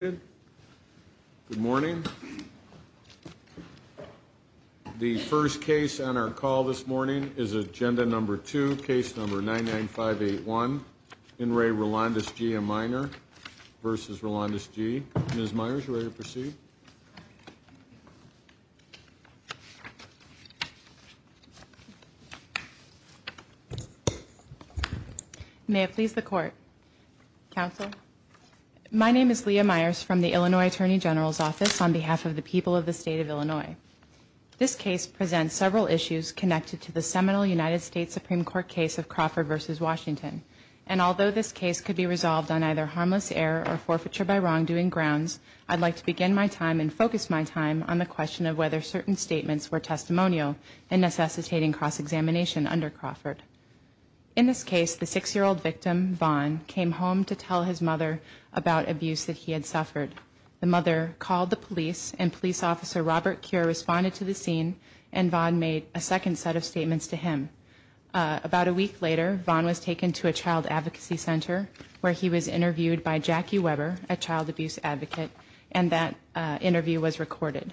Good morning. The first case on our call this morning is agenda number two, case number 99581. In re Rolandis G, a minor versus Rolandis G. Ms. Myers, are you ready to proceed? May it please the court. Counsel. My name is Leah Myers from the Illinois Attorney General's Office on behalf of the people of the state of Illinois. This case presents several issues connected to the seminal United States Supreme Court case of Crawford versus Washington. And although this case could be resolved on either harmless error or forfeiture by wrongdoing grounds, I'd like to begin my time and focus my time on the question of whether certain statements were testimonial and necessitating cross-examination under Crawford. In this case, the six-year-old victim, Vaughn, came home to tell his mother about abuse that he had suffered. The mother called the police, and police officer Robert Cure responded to the scene, and Vaughn made a second set of statements to him. About a week later, Vaughn was taken to a child advocacy center where he was interviewed by Jackie Weber, a child abuse advocate, and that interview was recorded.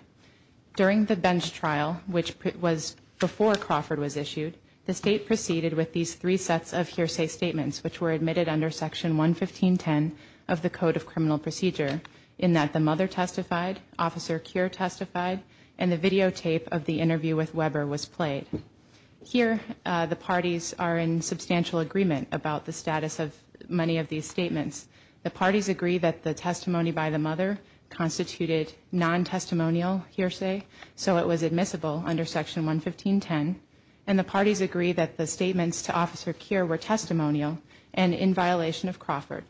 During the bench trial, which was before Crawford was issued, the state proceeded with these three sets of hearsay statements, which were admitted under Section 115.10 of the Code of Criminal Procedure, in that the mother testified, Officer Cure testified, and the videotape of the interview with Weber was played. Here, the parties are in substantial agreement about the status of many of these statements. The parties agree that the testimony by the mother constituted non-testimonial hearsay, so it was admissible under Section 115.10, and the parties agree that the statements to Officer Cure were testimonial and in violation of Crawford.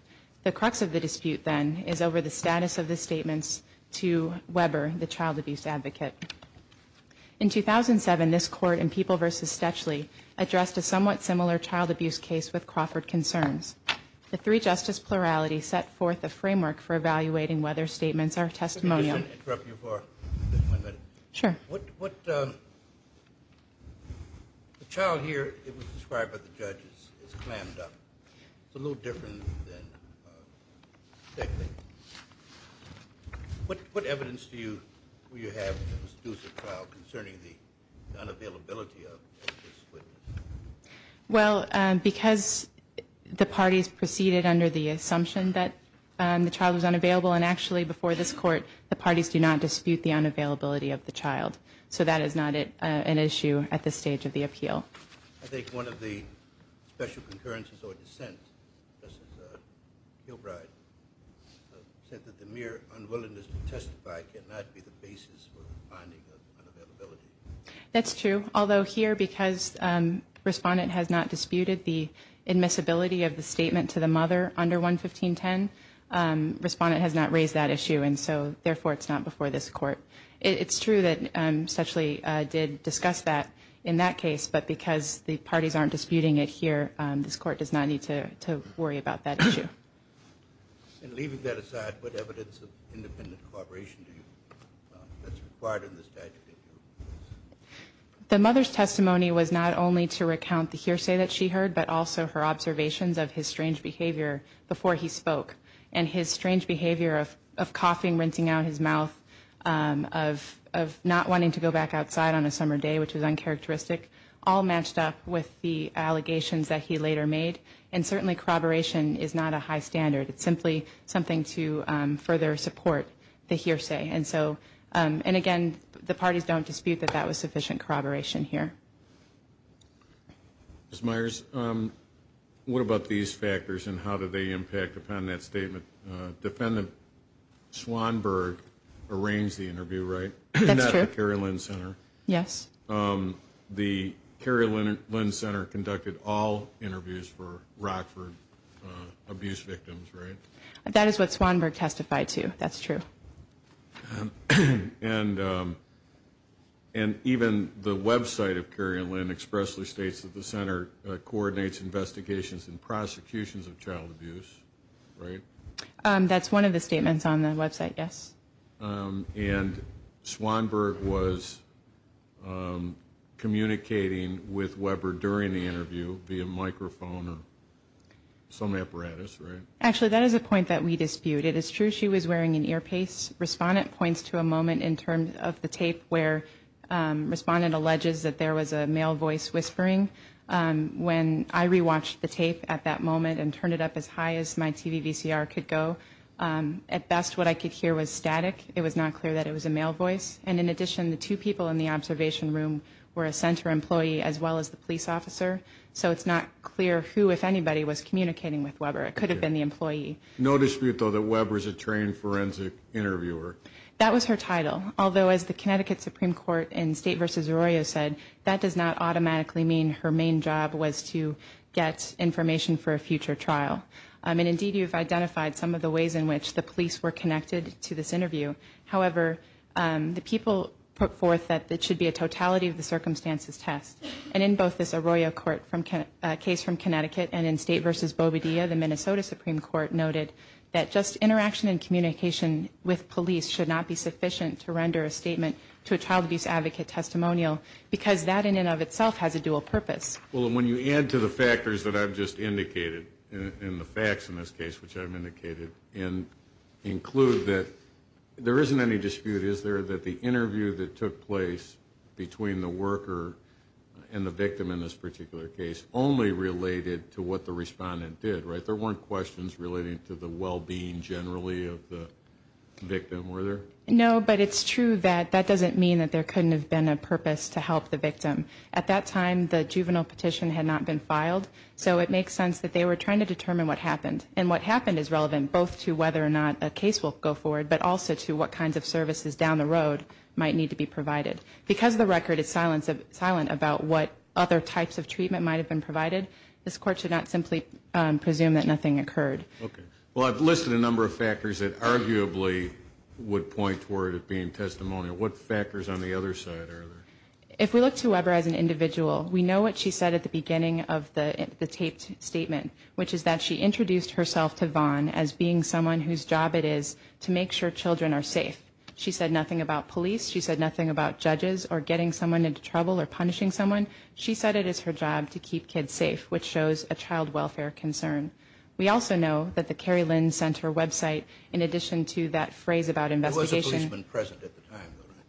The crux of the dispute, then, is over the status of the statements to Weber, the child abuse advocate. In 2007, this court in People v. Stetchley addressed a somewhat similar child abuse case with Crawford concerns. The three-justice plurality set forth a framework for evaluating whether statements are testimonial. Let me just interrupt you for one minute. Sure. What the child here, it was described by the judge as clammed up. It's a little different than Stetchley. What evidence do you have that was used in the trial concerning the unavailability of this witness? Well, because the parties proceeded under the assumption that the child was unavailable, and actually before this court, the parties do not dispute the unavailability of the child, so that is not an issue at this stage of the appeal. I think one of the special concurrences or dissents, Justice Gilbride, said that the mere unwillingness to testify cannot be the basis for the finding of unavailability. That's true. Although here, because Respondent has not disputed the admissibility of the statement to the mother under 11510, Respondent has not raised that issue, and so, therefore, it's not before this court. It's true that Stetchley did discuss that in that case, but because the parties aren't disputing it here, this court does not need to worry about that issue. And leaving that aside, what evidence of independent corroboration do you have that's required in this statute? The mother's testimony was not only to recount the hearsay that she heard, but also her observations of his strange behavior before he spoke, and his strange behavior of coughing, rinsing out his mouth, of not wanting to go back outside on a summer day, which was uncharacteristic, all matched up with the allegations that he later made, and certainly corroboration is not a high standard. It's simply something to further support the hearsay, and so, and again, the parties don't dispute that that was sufficient corroboration here. Ms. Myers, what about these factors, and how do they impact upon that statement? Defendant Swanberg arranged the interview, right? That's true. At the Carrie Lynn Center. Yes. The Carrie Lynn Center conducted all interviews for Rockford abuse victims, right? That is what Swanberg testified to. That's true. And even the website of Carrie Lynn expressly states that the center coordinates investigations and prosecutions of child abuse, right? That's one of the statements on the website, yes. And Swanberg was communicating with Weber during the interview via microphone or some apparatus, right? Actually, that is a point that we dispute. It is true she was wearing an earpiece. Respondent points to a moment in terms of the tape where respondent alleges that there was a male voice whispering. When I rewatched the tape at that moment and turned it up as high as my TVVCR could go, at best what I could hear was static. It was not clear that it was a male voice. And in addition, the two people in the observation room were a center employee as well as the police officer. So it's not clear who, if anybody, was communicating with Weber. It could have been the employee. No dispute, though, that Weber was a trained forensic interviewer. That was her title. Although, as the Connecticut Supreme Court in State v. Arroyo said, that does not automatically mean her main job was to get information for a future trial. And indeed, you've identified some of the ways in which the police were connected to this interview. However, the people put forth that it should be a totality of the circumstances test. And in both this Arroyo case from Connecticut and in State v. Bobadilla, the Minnesota Supreme Court noted that just interaction and communication with police should not be sufficient to render a statement to a child abuse advocate testimonial because that in and of itself has a dual purpose. Well, when you add to the factors that I've just indicated and the facts in this case, which I've indicated, and include that there isn't any dispute, is there, that the interview that took place between the worker and the victim in this particular case only related to what the respondent did, right? There weren't questions relating to the well-being generally of the victim, were there? No, but it's true that that doesn't mean that there couldn't have been a purpose to help the victim. At that time, the juvenile petition had not been filed, so it makes sense that they were trying to determine what happened. And what happened is relevant both to whether or not a case will go forward but also to what kinds of services down the road might need to be provided. Because the record is silent about what other types of treatment might have been provided, this Court should not simply presume that nothing occurred. Okay. Well, I've listed a number of factors that arguably would point toward it being testimonial. What factors on the other side are there? If we look to Weber as an individual, we know what she said at the beginning of the taped statement, which is that she introduced herself to Vaughn as being someone whose job it is to make sure children are safe. She said nothing about police. She said nothing about judges or getting someone into trouble or punishing someone. She said it is her job to keep kids safe, which shows a child welfare concern. We also know that the Cary Lynn Center website, in addition to that phrase about investigation. There was a policeman present at the time, though, right?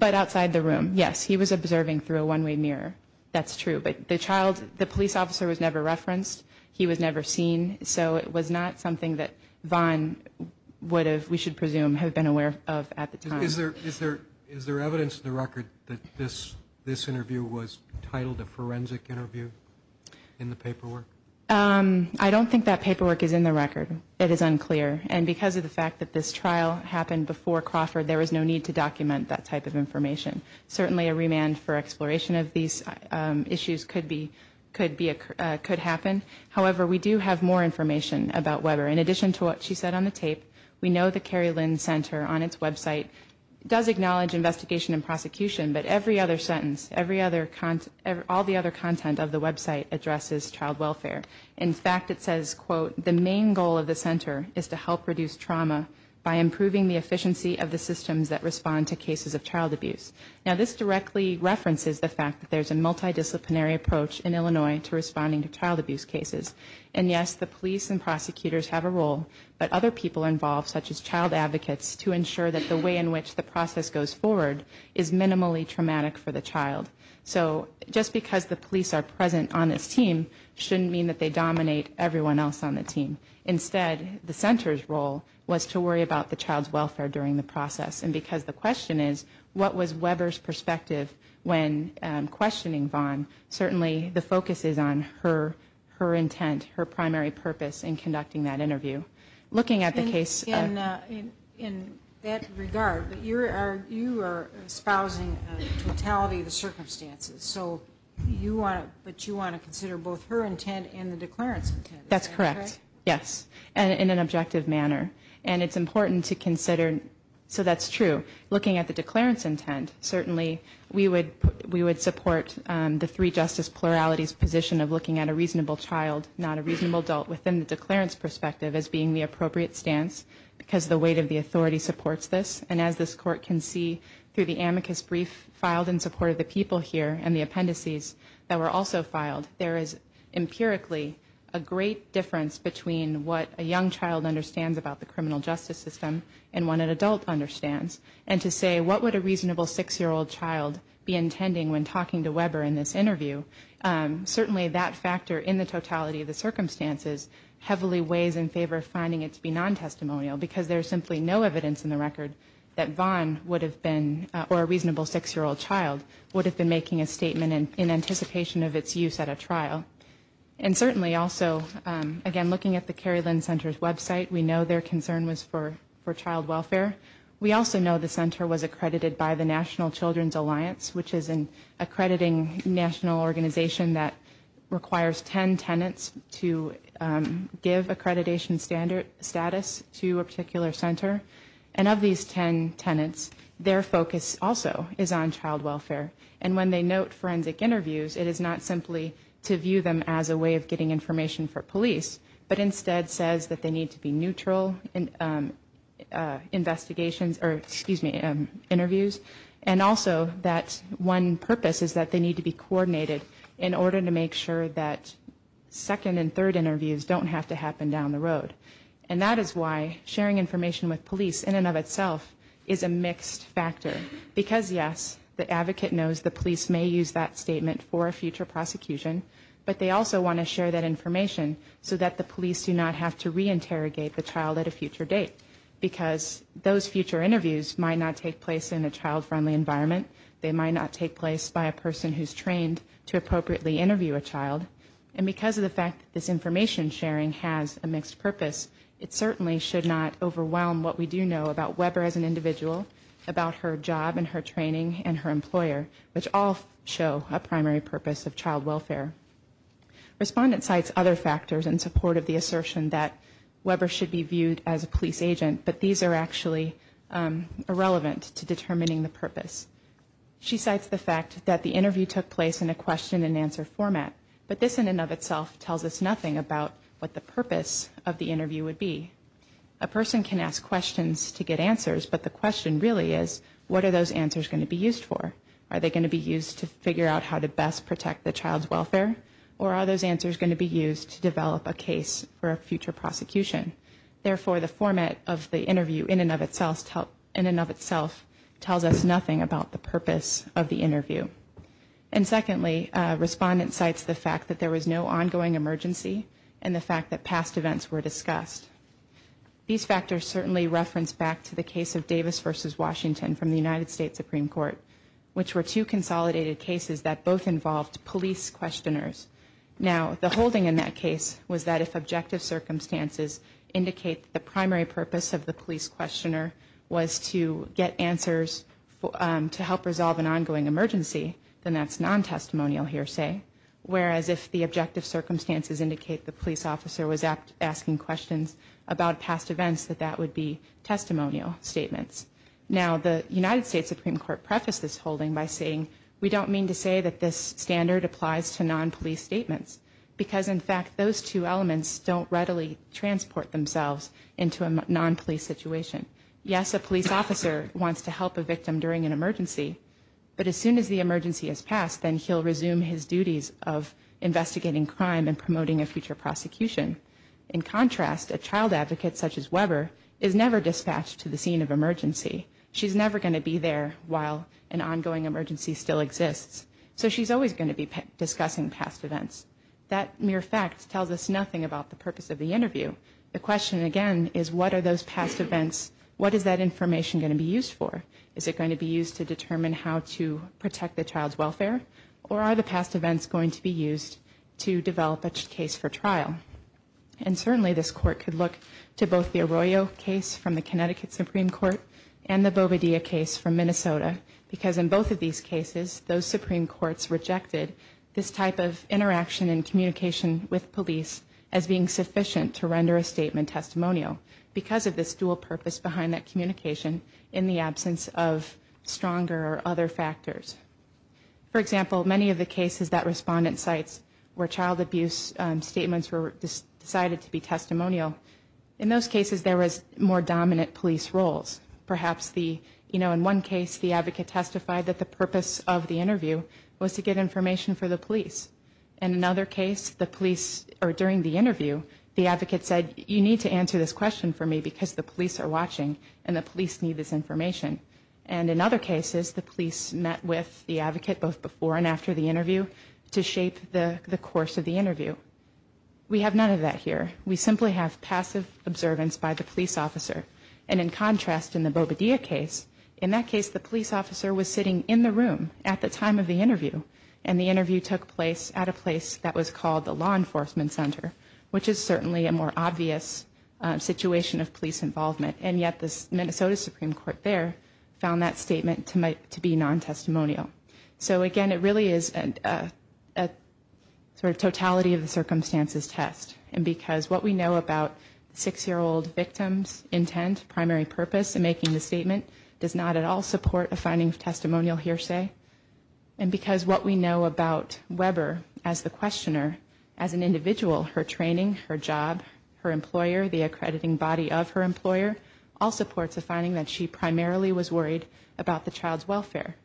But outside the room, yes. He was observing through a one-way mirror. That's true. But the police officer was never referenced. He was never seen. So it was not something that Vaughn would have, we should presume, have been aware of at the time. Is there evidence in the record that this interview was titled a forensic interview in the paperwork? I don't think that paperwork is in the record. It is unclear. And because of the fact that this trial happened before Crawford, there was no need to document that type of information. Certainly a remand for exploration of these issues could happen. However, we do have more information about Weber. In addition to what she said on the tape, we know the Cary Lynn Center, on its website, does acknowledge investigation and prosecution, but every other sentence, all the other content of the website addresses child welfare. In fact, it says, quote, the main goal of the center is to help reduce trauma by improving the efficiency of the systems that respond to cases of child abuse. Now, this directly references the fact that there's a multidisciplinary approach in Illinois to responding to child abuse cases. And, yes, the police and prosecutors have a role, but other people involved, such as child advocates, to ensure that the way in which the process goes forward is minimally traumatic for the child. So just because the police are present on this team shouldn't mean that they dominate everyone else on the team. Instead, the center's role was to worry about the child's welfare during the process. And because the question is, what was Weber's perspective when questioning Vaughn, certainly the focus is on her intent, her primary purpose in conducting that interview. Looking at the case- In that regard, you are espousing totality of the circumstances, but you want to consider both her intent and the declarant's intent, is that correct? That's correct, yes, in an objective manner. And it's important to consider, so that's true, looking at the declarant's intent, certainly we would support the three justice pluralities position of looking at a reasonable child, not a reasonable adult, within the declarant's perspective as being the appropriate stance, because the weight of the authority supports this. And as this Court can see through the amicus brief filed in support of the people here and the appendices that were also filed, there is empirically a great difference between what a young child understands about the criminal justice system and what an adult understands. And to say, what would a reasonable six-year-old child be intending when talking to Weber in this interview, certainly that factor in the totality of the circumstances heavily weighs in favor of finding it to be non-testimonial, because there is simply no evidence in the record that Vaughn would have been, or a reasonable six-year-old child, would have been making a statement in anticipation of its use at a trial. And certainly also, again, looking at the Cary Lynn Center's website, we know their concern was for child welfare. We also know the Center was accredited by the National Children's Alliance, which is an accrediting national organization that requires ten tenants to give accreditation status to a particular center. And of these ten tenants, their focus also is on child welfare. And when they note forensic interviews, it is not simply to view them as a way of getting information for police, but instead says that they need to be neutral in investigations or, excuse me, interviews, and also that one purpose is that they need to be coordinated in order to make sure that second and third interviews don't have to happen down the road. And that is why sharing information with police, in and of itself, is a mixed factor. Because, yes, the advocate knows the police may use that statement for a future prosecution, but they also want to share that information so that the police do not have to reinterrogate the child at a future date, because those future interviews might not take place in a child-friendly environment. They might not take place by a person who's trained to appropriately interview a child. And because of the fact that this information sharing has a mixed purpose, it certainly should not overwhelm what we do know about Weber as an individual, about her job and her training and her employer, which all show a primary purpose of child welfare. Respondent cites other factors in support of the assertion that Weber should be viewed as a police agent, but these are actually irrelevant to determining the purpose. She cites the fact that the interview took place in a question-and-answer format, but this in and of itself tells us nothing about what the purpose of the interview would be. A person can ask questions to get answers, but the question really is, what are those answers going to be used for? Are they going to be used to figure out how to best protect the child's welfare, or are those answers going to be used to develop a case for a future prosecution? Therefore, the format of the interview in and of itself tells us nothing about the purpose of the interview. And secondly, respondent cites the fact that there was no ongoing emergency and the fact that past events were discussed. These factors certainly reference back to the case of Davis v. Washington from the United States Supreme Court, which were two consolidated cases that both involved police questioners. Now, the holding in that case was that if objective circumstances indicate the primary purpose of the police questioner was to get answers to help resolve an ongoing emergency, then that's non-testimonial hearsay, whereas if the objective circumstances indicate the police officer was asking questions about past events, that that would be testimonial statements. Now, the United States Supreme Court prefaced this holding by saying, we don't mean to say that this standard applies to non-police statements, because in fact those two elements don't readily transport themselves into a non-police situation. Yes, a police officer wants to help a victim during an emergency, but as soon as the emergency has passed, then he'll resume his duties of investigating crime and promoting a future prosecution. In contrast, a child advocate such as Weber is never dispatched to the scene of emergency. She's never going to be there while an ongoing emergency still exists, so she's always going to be discussing past events. That mere fact tells us nothing about the purpose of the interview. The question, again, is what are those past events, what is that information going to be used for? Is it going to be used to determine how to protect the child's welfare, or are the past events going to be used to develop a case for trial? And certainly this court could look to both the Arroyo case from the Connecticut Supreme Court and the Bobadilla case from Minnesota, because in both of these cases, those Supreme Courts rejected this type of interaction and communication with police as being sufficient to render a statement testimonial, because of this dual purpose behind that communication in the absence of stronger or other factors. For example, many of the cases that respondent cites were child abuse statements were decided to be testimonial. In those cases, there was more dominant police roles. Perhaps in one case, the advocate testified that the purpose of the interview was to get information for the police. In another case, during the interview, the advocate said, you need to answer this question for me because the police are watching and the police need this information. And in other cases, the police met with the advocate both before and after the interview to shape the course of the interview. We have none of that here. We simply have passive observance by the police officer. And in contrast, in the Bobadilla case, in that case, the police officer was sitting in the room at the time of the interview, and the interview took place at a place that was called the Law Enforcement Center, which is certainly a more obvious situation of police involvement. And yet the Minnesota Supreme Court there found that statement to be non-testimonial. So again, it really is a sort of totality of the circumstances test. And because what we know about the six-year-old victim's intent, primary purpose in making the statement, does not at all support a finding of testimonial hearsay. And because what we know about Weber as the questioner, as an individual, her training, her job, her employer, the accrediting body of her employer, all supports a finding that she primarily was worried about the child's welfare.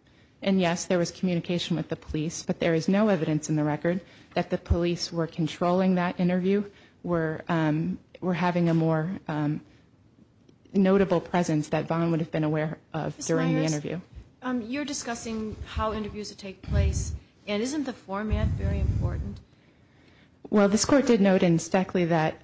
And, yes, there was communication with the police, but there is no evidence in the record that the police were controlling that interview, were having a more notable presence that Vaughn would have been aware of during the interview. Ms. Myers, you're discussing how interviews would take place, and isn't the format very important? Well, this Court did note in Stackley that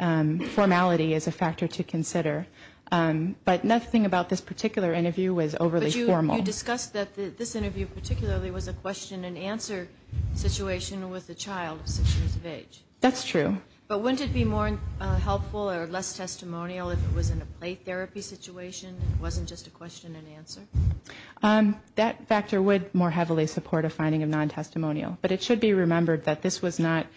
formality is a factor to consider. But nothing about this particular interview was overly formal. But you discussed that this interview particularly was a question-and-answer situation with a child of six years of age. That's true. But wouldn't it be more helpful or less testimonial if it was in a play therapy situation, and it wasn't just a question-and-answer? That factor would more heavily support a finding of non-testimonial. But it should be remembered that this was not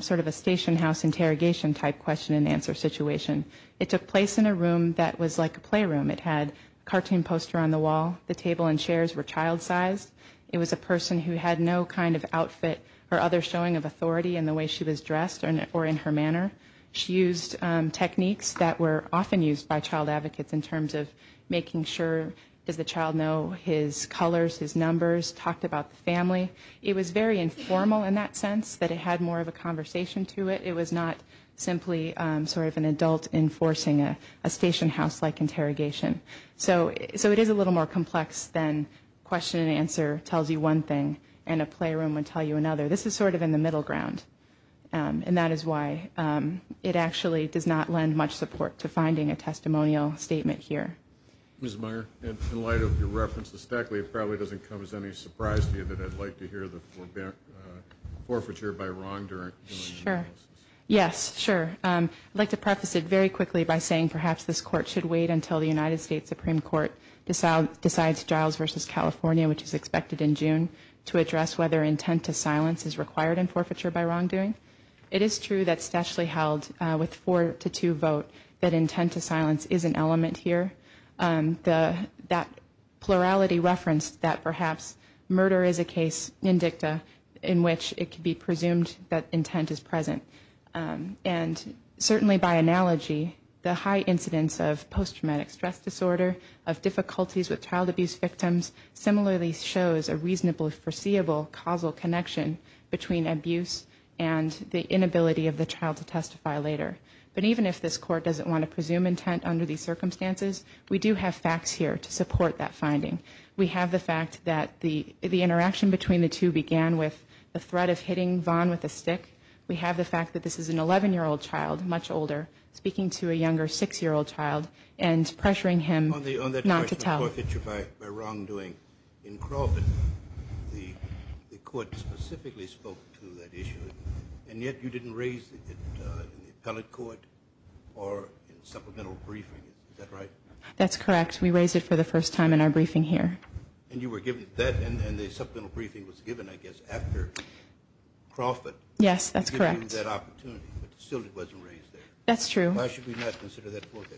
sort of a station house interrogation type question-and-answer situation. It took place in a room that was like a playroom. It had a cartoon poster on the wall. The table and chairs were child-sized. It was a person who had no kind of outfit or other showing of authority in the way she was dressed or in her manner. She used techniques that were often used by child advocates in terms of making sure, does the child know his colors, his numbers, talked about the family. It was very informal in that sense that it had more of a conversation to it. It was not simply sort of an adult enforcing a station house-like interrogation. So it is a little more complex than question-and-answer tells you one thing and a playroom would tell you another. This is sort of in the middle ground. And that is why it actually does not lend much support to finding a testimonial statement here. Ms. Meyer, in light of your reference to Stackley, it probably doesn't come as any surprise to you that I'd like to hear the forfeiture by wrongdoing. Sure. Yes, sure. I'd like to preface it very quickly by saying perhaps this Court should wait until the United States Supreme Court decides Giles v. California, which is expected in June, to address whether intent to silence is required in forfeiture by wrongdoing. It is true that Stackley held with four to two vote that intent to silence is an element here. That plurality referenced that perhaps murder is a case in dicta in which it could be presumed that intent is present. And certainly by analogy, the high incidence of post-traumatic stress disorder, of difficulties with child abuse victims, similarly shows a reasonable foreseeable causal connection between abuse and the inability of the child to testify later. But even if this Court doesn't want to presume intent under these circumstances, we do have facts here to support that finding. We have the fact that the interaction between the two began with the threat of hitting Vaughn with a stick. We have the fact that this is an 11-year-old child, much older, speaking to a younger 6-year-old child and pressuring him not to tell. This is forfeiture by wrongdoing. In Crawford, the Court specifically spoke to that issue, and yet you didn't raise it in the appellate court or in supplemental briefing. Is that right? That's correct. We raised it for the first time in our briefing here. And you were given that, and the supplemental briefing was given, I guess, after Crawford. Yes, that's correct. You were given that opportunity, but still it wasn't raised there. That's true. Why should we not consider that forfeiture?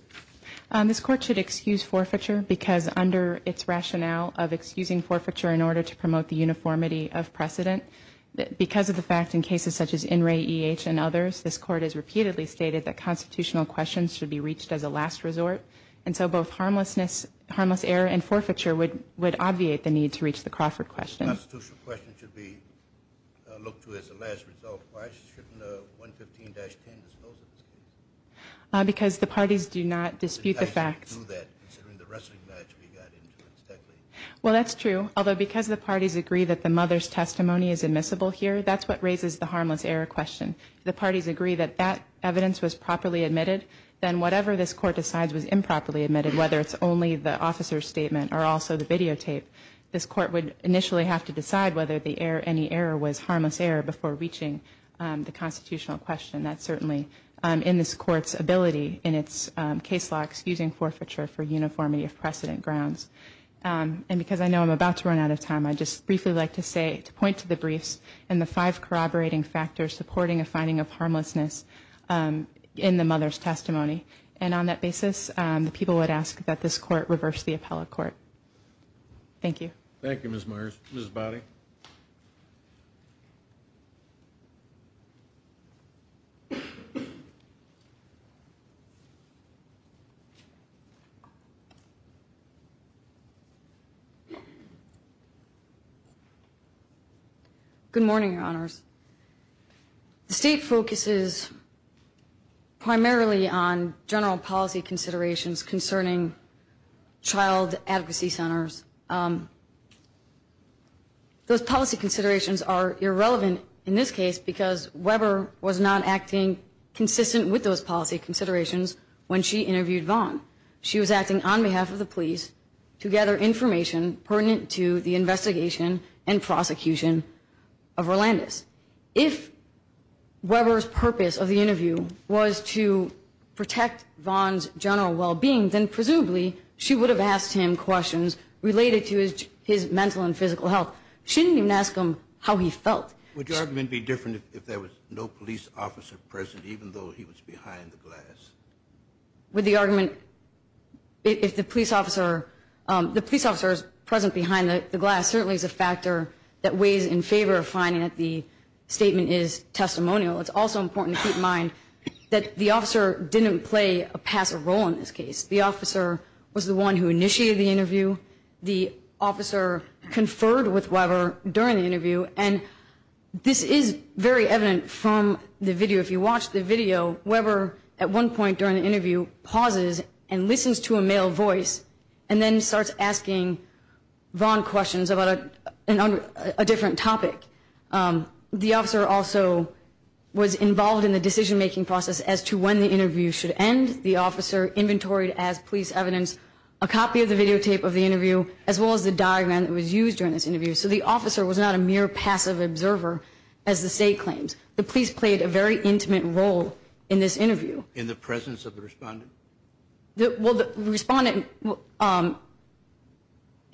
This Court should excuse forfeiture because under its rationale of excusing forfeiture in order to promote the uniformity of precedent, because of the fact in cases such as In re E H and others, this Court has repeatedly stated that constitutional questions should be reached as a last resort. And so both harmless error and forfeiture would obviate the need to reach the Crawford question. The constitutional question should be looked to as a last resort. Why shouldn't 115-10 dispose of this case? Because the parties do not dispute the facts. You guys didn't do that, considering the wrestling match we got into. Well, that's true, although because the parties agree that the mother's testimony is admissible here, that's what raises the harmless error question. If the parties agree that that evidence was properly admitted, then whatever this Court decides was improperly admitted, whether it's only the officer's statement or also the videotape, this Court would initially have to decide whether any error was harmless error before reaching the constitutional question. That's certainly in this Court's ability in its case law, excusing forfeiture for uniformity of precedent grounds. And because I know I'm about to run out of time, I'd just briefly like to point to the briefs and the five corroborating factors supporting a finding of harmlessness in the mother's testimony. And on that basis, the people would ask that this Court reverse the appellate court. Thank you. Thank you, Ms. Myers. Ms. Bowdy. Good morning, Your Honors. The State focuses primarily on general policy considerations concerning child advocacy centers. Those policy considerations are irrelevant in this case because Weber was not acting consistent with those policy considerations when she interviewed Vaughn. She was acting on behalf of the police to gather information pertinent to the investigation and prosecution of Herlandez. If Weber's purpose of the interview was to protect Vaughn's general well-being, then presumably she would have asked him questions related to his mental and physical health. She didn't even ask him how he felt. Would your argument be different if there was no police officer present, even though he was behind the glass? With the argument, if the police officer is present behind the glass certainly is a factor that weighs in favor of finding that the statement is testimonial. It's also important to keep in mind that the officer didn't play a passive role in this case. The officer was the one who initiated the interview. The officer conferred with Weber during the interview. And this is very evident from the video. If you watch the video, Weber at one point during the interview pauses and listens to a male voice and then starts asking Vaughn questions about a different topic. The officer also was involved in the decision-making process as to when the interview should end. The officer inventoried as police evidence a copy of the videotape of the interview as well as the diagram that was used during this interview. So the officer was not a mere passive observer as the state claims. The police played a very intimate role in this interview. In the presence of the respondent? Well, the respondent, in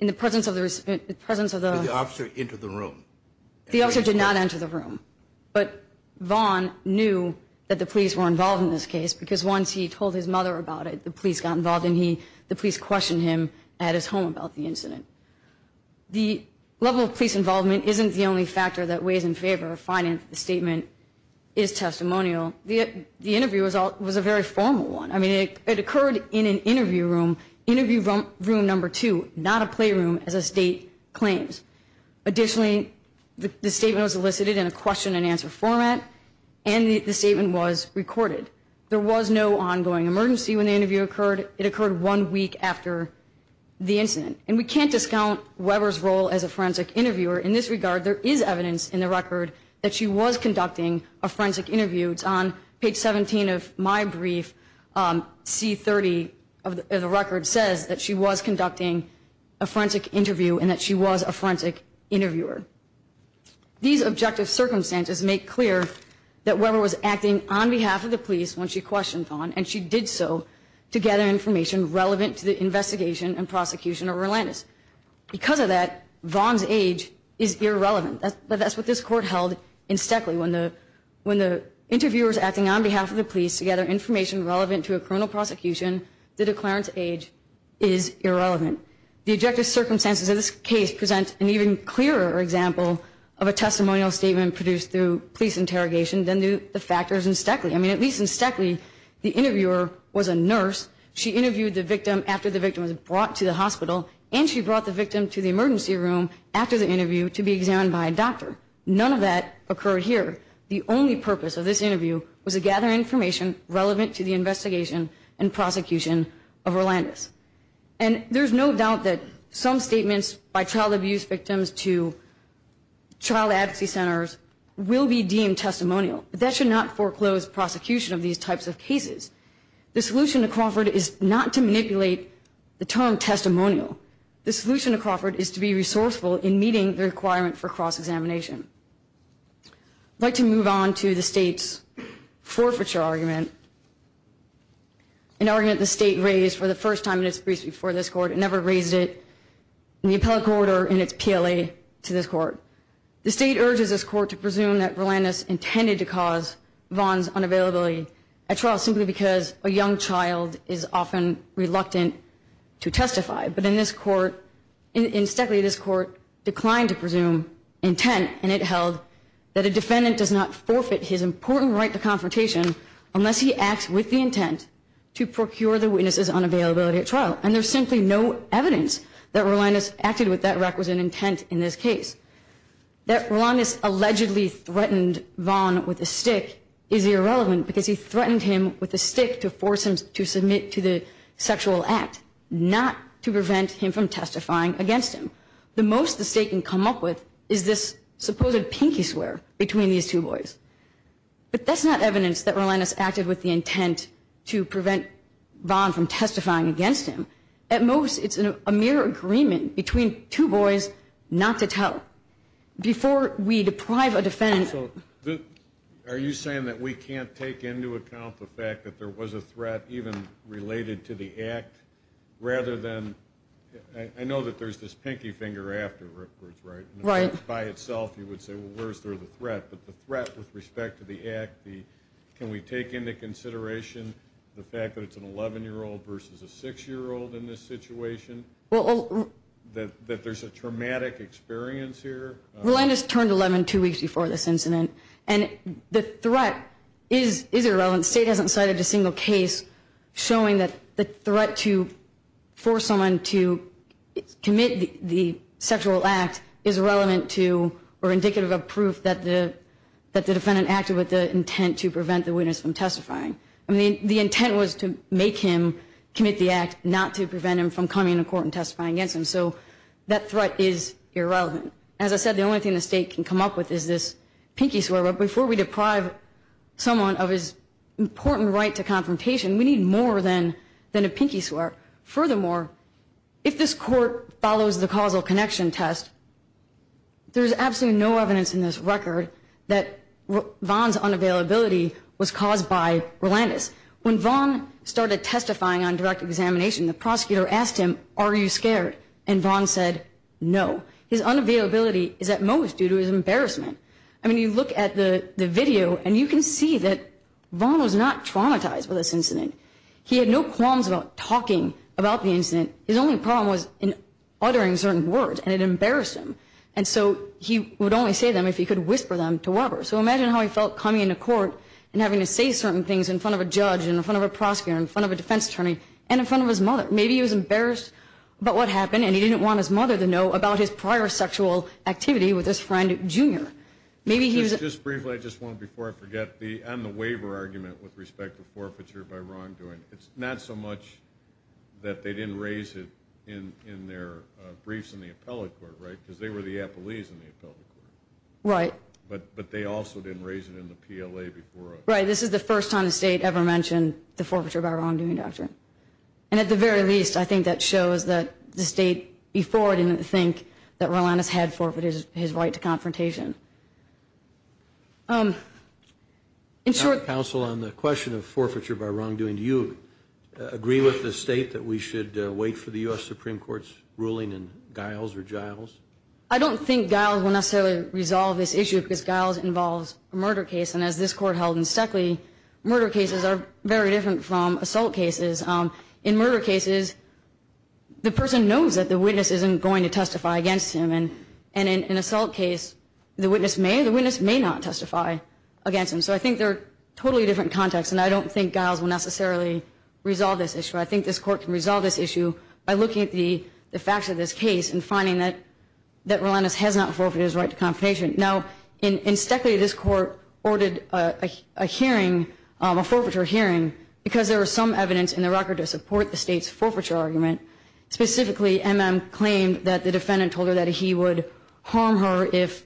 the presence of the respondent, in the presence of the Did the officer enter the room? The officer did not enter the room, but Vaughn knew that the police were involved in this case because once he told his mother about it, the police got involved and the police questioned him at his home about the incident. The level of police involvement isn't the only factor that weighs in favor of finding that the statement is testimonial. The interview was a very formal one. I mean, it occurred in an interview room, interview room number two, not a playroom as a state claims. Additionally, the statement was elicited in a question-and-answer format, and the statement was recorded. There was no ongoing emergency when the interview occurred. It occurred one week after the incident. And we can't discount Weber's role as a forensic interviewer. In this regard, there is evidence in the record that she was conducting a forensic interview. It's on page 17 of my brief. C30 of the record says that she was conducting a forensic interview and that she was a forensic interviewer. These objective circumstances make clear that Weber was acting on behalf of the police when she questioned Vaughn, and she did so to gather information relevant to the investigation and prosecution of Rolandis. Because of that, Vaughn's age is irrelevant. That's what this court held in Stekley. When the interviewer is acting on behalf of the police to gather information relevant to a criminal prosecution, the declarant's age is irrelevant. The objective circumstances of this case present an even clearer example of a testimonial statement produced through police interrogation than the factors in Stekley. I mean, at least in Stekley, the interviewer was a nurse. She interviewed the victim after the victim was brought to the hospital, and she brought the victim to the emergency room after the interview to be examined by a doctor. None of that occurred here. The only purpose of this interview was to gather information relevant to the investigation and prosecution of Rolandis. And there's no doubt that some statements by child abuse victims to child advocacy centers will be deemed testimonial. But that should not foreclose prosecution of these types of cases. The solution to Crawford is not to manipulate the term testimonial. The solution to Crawford is to be resourceful in meeting the requirement for cross-examination. I'd like to move on to the state's forfeiture argument, an argument the state raised for the first time in its briefs before this court. It never raised it in the appellate court or in its PLA to this court. The state urges this court to presume that Rolandis intended to cause Vaughn's unavailability at trial simply because a young child is often reluctant to testify. But in this court, in Stekley, this court declined to presume intent, and it held that a defendant does not forfeit his important right to confrontation unless he acts with the intent to procure the witness's unavailability at trial. And there's simply no evidence that Rolandis acted with that requisite intent in this case. That Rolandis allegedly threatened Vaughn with a stick is irrelevant because he threatened him with a stick to force him to submit to the sexual act, not to prevent him from testifying against him. The most the state can come up with is this supposed pinky swear between these two boys. But that's not evidence that Rolandis acted with the intent to prevent Vaughn from testifying against him. At most, it's a mere agreement between two boys not to tell. Before we deprive a defendant... Are you saying that we can't take into account the fact that there was a threat even related to the act rather than, I know that there's this pinky finger afterwards, right? Right. Not by itself, you would say, well, where's the threat? But the threat with respect to the act, can we take into consideration the fact that it's an 11-year-old versus a 6-year-old in this situation, that there's a traumatic experience here? Rolandis turned 11 two weeks before this incident. And the threat is irrelevant. The state hasn't cited a single case showing that the threat to force someone to commit the sexual act is relevant to or indicative of proof that the defendant acted with the intent to prevent the witness from testifying. I mean, the intent was to make him commit the act, not to prevent him from coming to court and testifying against him. So that threat is irrelevant. As I said, the only thing the state can come up with is this pinky swear. But before we deprive someone of his important right to confrontation, we need more than a pinky swear. Furthermore, if this court follows the causal connection test, there's absolutely no evidence in this record that Vaughn's unavailability was caused by Rolandis. When Vaughn started testifying on direct examination, the prosecutor asked him, are you scared? And Vaughn said, no. His unavailability is at most due to his embarrassment. I mean, you look at the video, and you can see that Vaughn was not traumatized with this incident. He had no qualms about talking about the incident. His only problem was in uttering certain words, and it embarrassed him. And so he would only say them if he could whisper them to Weber. So imagine how he felt coming into court and having to say certain things in front of a judge and in front of a prosecutor and in front of a defense attorney and in front of his mother. Maybe he was embarrassed about what happened, and he didn't want his mother to know about his prior sexual activity with his friend, Jr. Just briefly, I just want to, before I forget, on the waiver argument with respect to forfeiture by wrongdoing, it's not so much that they didn't raise it in their briefs in the appellate court, right? Because they were the appellees in the appellate court. Right. But they also didn't raise it in the PLA before. Right. This is the first time the state ever mentioned the forfeiture by wrongdoing doctrine. And at the very least, I think that shows that the state before didn't think that Rolandis had forfeited his right to confrontation. Counsel, on the question of forfeiture by wrongdoing, do you agree with the state that we should wait for the U.S. Supreme Court's ruling in Giles or Giles? I don't think Giles will necessarily resolve this issue because Giles involves a murder case. And as this court held in Stuckley, murder cases are very different from assault cases. In murder cases, the person knows that the witness isn't going to testify against him. And in an assault case, the witness may or the witness may not testify against him. So I think they're totally different contexts, and I don't think Giles will necessarily resolve this issue. I think this court can resolve this issue by looking at the facts of this case and finding that Rolandis has not forfeited his right to confrontation. Now, in Stuckley, this court ordered a hearing, a forfeiture hearing, because there was some evidence in the record to support the state's forfeiture argument. Specifically, M.M. claimed that the defendant told her that he would harm her if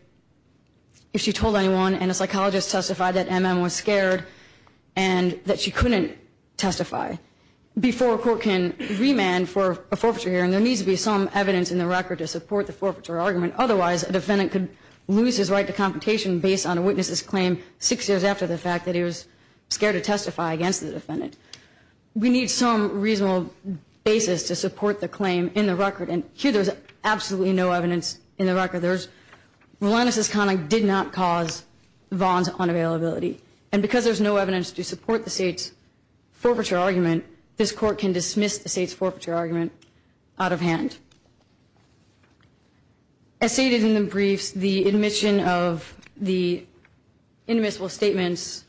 she told anyone, and a psychologist testified that M.M. was scared and that she couldn't testify. Before a court can remand for a forfeiture hearing, there needs to be some evidence in the record to support the forfeiture argument. Otherwise, a defendant could lose his right to confrontation based on a witness's claim six years after the fact that he was scared to testify against the defendant. We need some reasonable basis to support the claim in the record, and here there's absolutely no evidence in the record. Rolandis' conduct did not cause Vaughn's unavailability. And because there's no evidence to support the state's forfeiture argument, this court can dismiss the state's forfeiture argument out of hand. As stated in the briefs, the admission of the inadmissible statements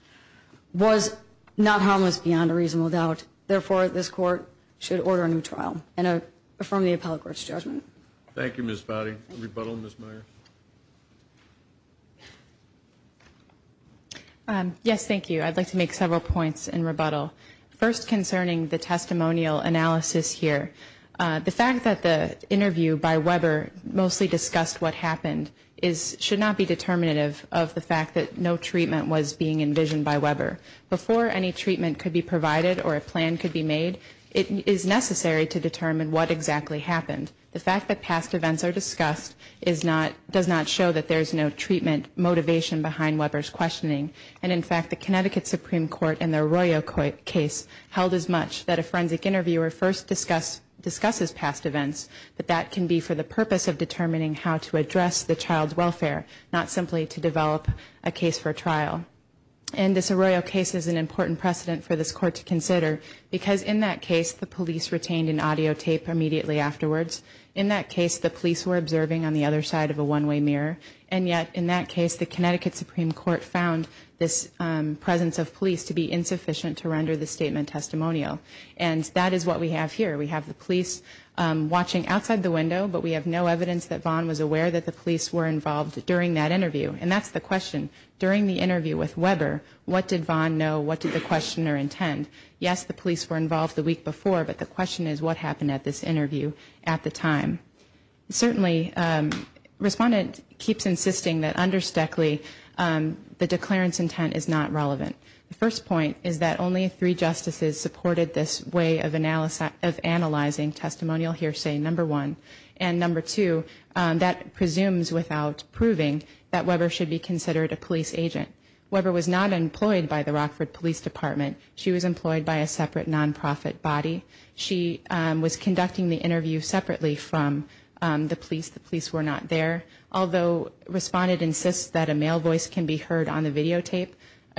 was not harmless beyond a reasonable doubt. Therefore, this court should order a new trial and affirm the appellate court's judgment. Thank you, Ms. Fowdy. Rebuttal, Ms. Meyer. Yes, thank you. I'd like to make several points in rebuttal. First, concerning the testimonial analysis here. The fact that the interview by Weber mostly discussed what happened should not be determinative of the fact that no treatment was being envisioned by Weber. Before any treatment could be provided or a plan could be made, it is necessary to determine what exactly happened. The fact that past events are discussed does not show that there's no treatment motivation behind Weber's questioning. And in fact, the Connecticut Supreme Court in the Arroyo case held as much that a forensic interviewer first discusses past events, but that can be for the purpose of determining how to address the child's welfare, not simply to develop a case for trial. And this Arroyo case is an important precedent for this court to consider because in that case, the police retained an audio tape immediately afterwards. In that case, the police were observing on the other side of a one-way mirror. And yet, in that case, the Connecticut Supreme Court found this presence of police to be insufficient to render the statement testimonial. And that is what we have here. We have the police watching outside the window, but we have no evidence that Vaughn was aware that the police were involved during that interview. And that's the question. During the interview with Weber, what did Vaughn know? What did the questioner intend? Yes, the police were involved the week before, but the question is what happened at this interview at the time. Certainly, the respondent keeps insisting that under Stoeckley, the declarence intent is not relevant. The first point is that only three justices supported this way of analyzing testimonial hearsay, number one. And number two, that presumes without proving that Weber should be considered a police agent. Weber was not employed by the Rockford Police Department. She was employed by a separate nonprofit body. She was conducting the interview separately from the police. The police were not there. Although respondent insists that a male voice can be heard on the videotape,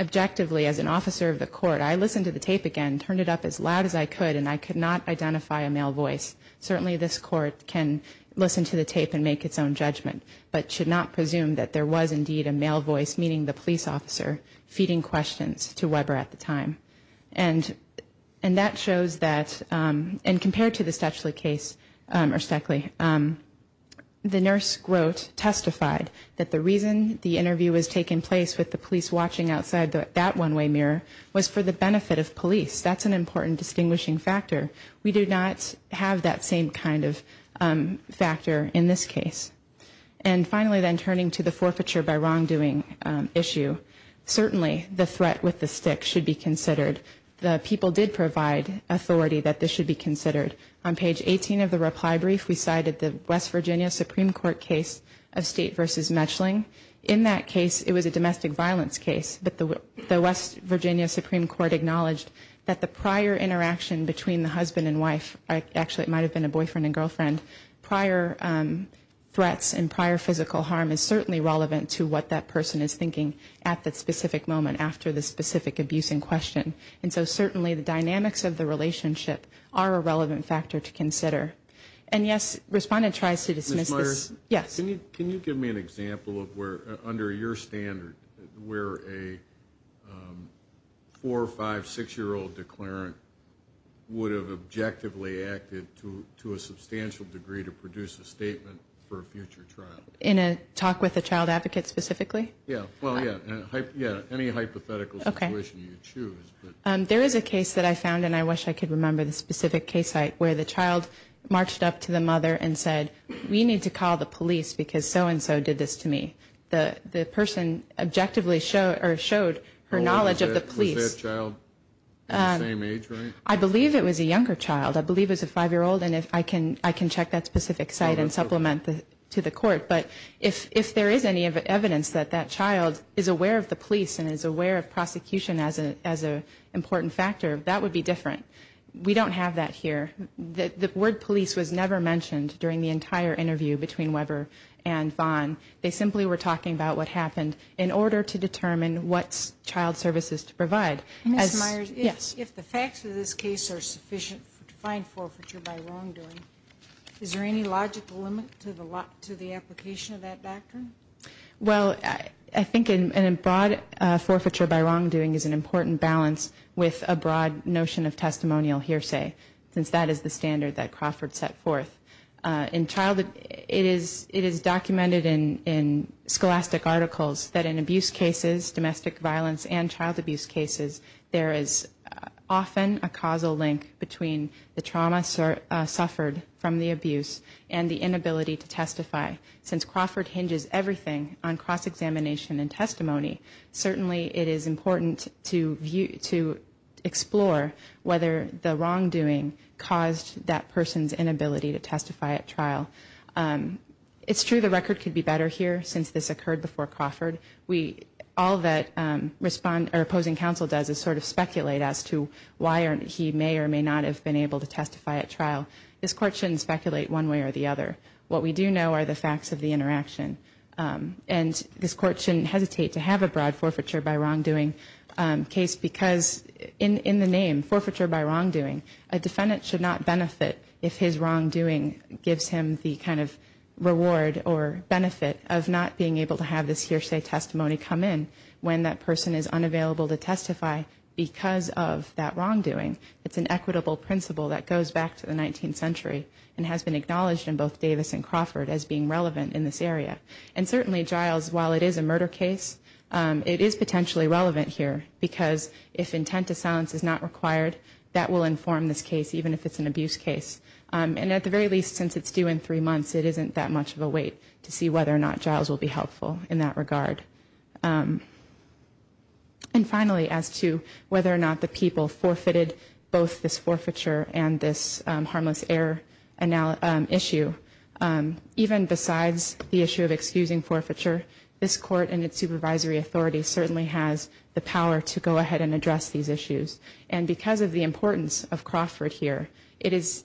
objectively, as an officer of the court, I listened to the tape again, turned it up as loud as I could, and I could not identify a male voice. Certainly, this court can listen to the tape and make its own judgment, but should not presume that there was indeed a male voice, meaning the police officer, feeding questions to Weber at the time. And that shows that, and compared to the Stoeckley case, the nurse wrote, testified, that the reason the interview was taking place with the police watching outside that one-way mirror was for the benefit of police. That's an important distinguishing factor. We do not have that same kind of factor in this case. And finally, then, turning to the forfeiture by wrongdoing issue, certainly the threat with the stick should be considered. The people did provide authority that this should be considered. On page 18 of the reply brief, we cited the West Virginia Supreme Court case of State v. Metchling. In that case, it was a domestic violence case, but the West Virginia Supreme Court acknowledged that the prior interaction between the husband and wife, actually it might have been a boyfriend and girlfriend, prior threats and prior physical harm is certainly relevant to what that person is thinking at that specific moment after the specific abuse in question. And so certainly the dynamics of the relationship are a relevant factor to consider. And, yes, respondent tries to dismiss this. Ms. Meyers? Yes. Can you give me an example of where, under your standard, where a four-, five-, six-year-old declarant would have objectively acted to a substantial degree to produce a statement for a future trial? In a talk with a child advocate specifically? Yes. Well, yes. Any hypothetical situation you choose. There is a case that I found, and I wish I could remember the specific case site, where the child marched up to the mother and said, we need to call the police because so-and-so did this to me. The person objectively showed her knowledge of the police. Was that child the same age, right? I believe it was a younger child. I believe it was a five-year-old, and I can check that specific site and supplement to the court. But if there is any evidence that that child is aware of the police and is aware of prosecution as an important factor, that would be different. We don't have that here. The word police was never mentioned during the entire interview between Weber and Vaughn. They simply were talking about what happened in order to determine what child services to provide. Ms. Meyers? Yes. If the facts of this case are sufficient to find forfeiture by wrongdoing, is there any logical limit to the application of that doctrine? Well, I think a broad forfeiture by wrongdoing is an important balance with a broad notion of testimonial hearsay, since that is the standard that Crawford set forth. It is documented in scholastic articles that in abuse cases, domestic violence and child abuse cases, there is often a causal link between the trauma suffered from the abuse and the inability to testify. Since Crawford hinges everything on cross-examination and testimony, certainly it is important to explore whether the wrongdoing caused that person's inability to testify at trial. It's true the record could be better here since this occurred before Crawford. All that opposing counsel does is sort of speculate as to why he may or may not have been able to testify at trial. This Court shouldn't speculate one way or the other. What we do know are the facts of the interaction. And this Court shouldn't hesitate to have a broad forfeiture by wrongdoing case because in the name, forfeiture by wrongdoing, a defendant should not benefit if his wrongdoing gives him the kind of reward or benefit of not being able to have this hearsay testimony come in when that person is unavailable to testify because of that wrongdoing. It's an equitable principle that goes back to the 19th century and has been acknowledged in both Davis and Crawford as being relevant in this area. And certainly, Giles, while it is a murder case, it is potentially relevant here because if intent to silence is not required, that will inform this case, even if it's an abuse case. And at the very least, since it's due in three months, it isn't that much of a wait to see whether or not Giles will be helpful in that regard. And finally, as to whether or not the people forfeited both this forfeiture and this harmless error issue, even besides the issue of excusing forfeiture, this Court and its supervisory authority certainly has the power to go ahead and address these issues. And because of the importance of Crawford here, it is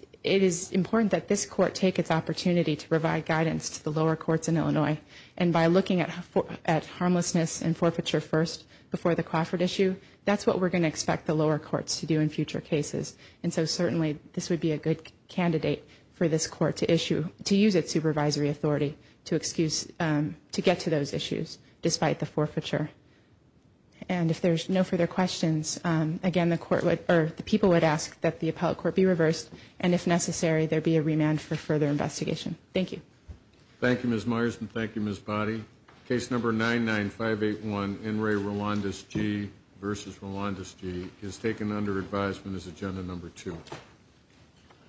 important that this Court take its opportunity to provide guidance to the lower courts in Illinois. And by looking at harmlessness and forfeiture first before the Crawford issue, that's what we're going to expect the lower courts to do in future cases. And so certainly, this would be a good candidate for this Court to use its supervisory authority to get to those issues despite the forfeiture. And if there's no further questions, again, the people would ask that the appellate court be reversed, and if necessary, there be a remand for further investigation. Thank you. Thank you, Ms. Myers, and thank you, Ms. Boddy. Case number 99581, Enri Rolandes G v. Rolandes G, is taken under advisement as Agenda Number 2.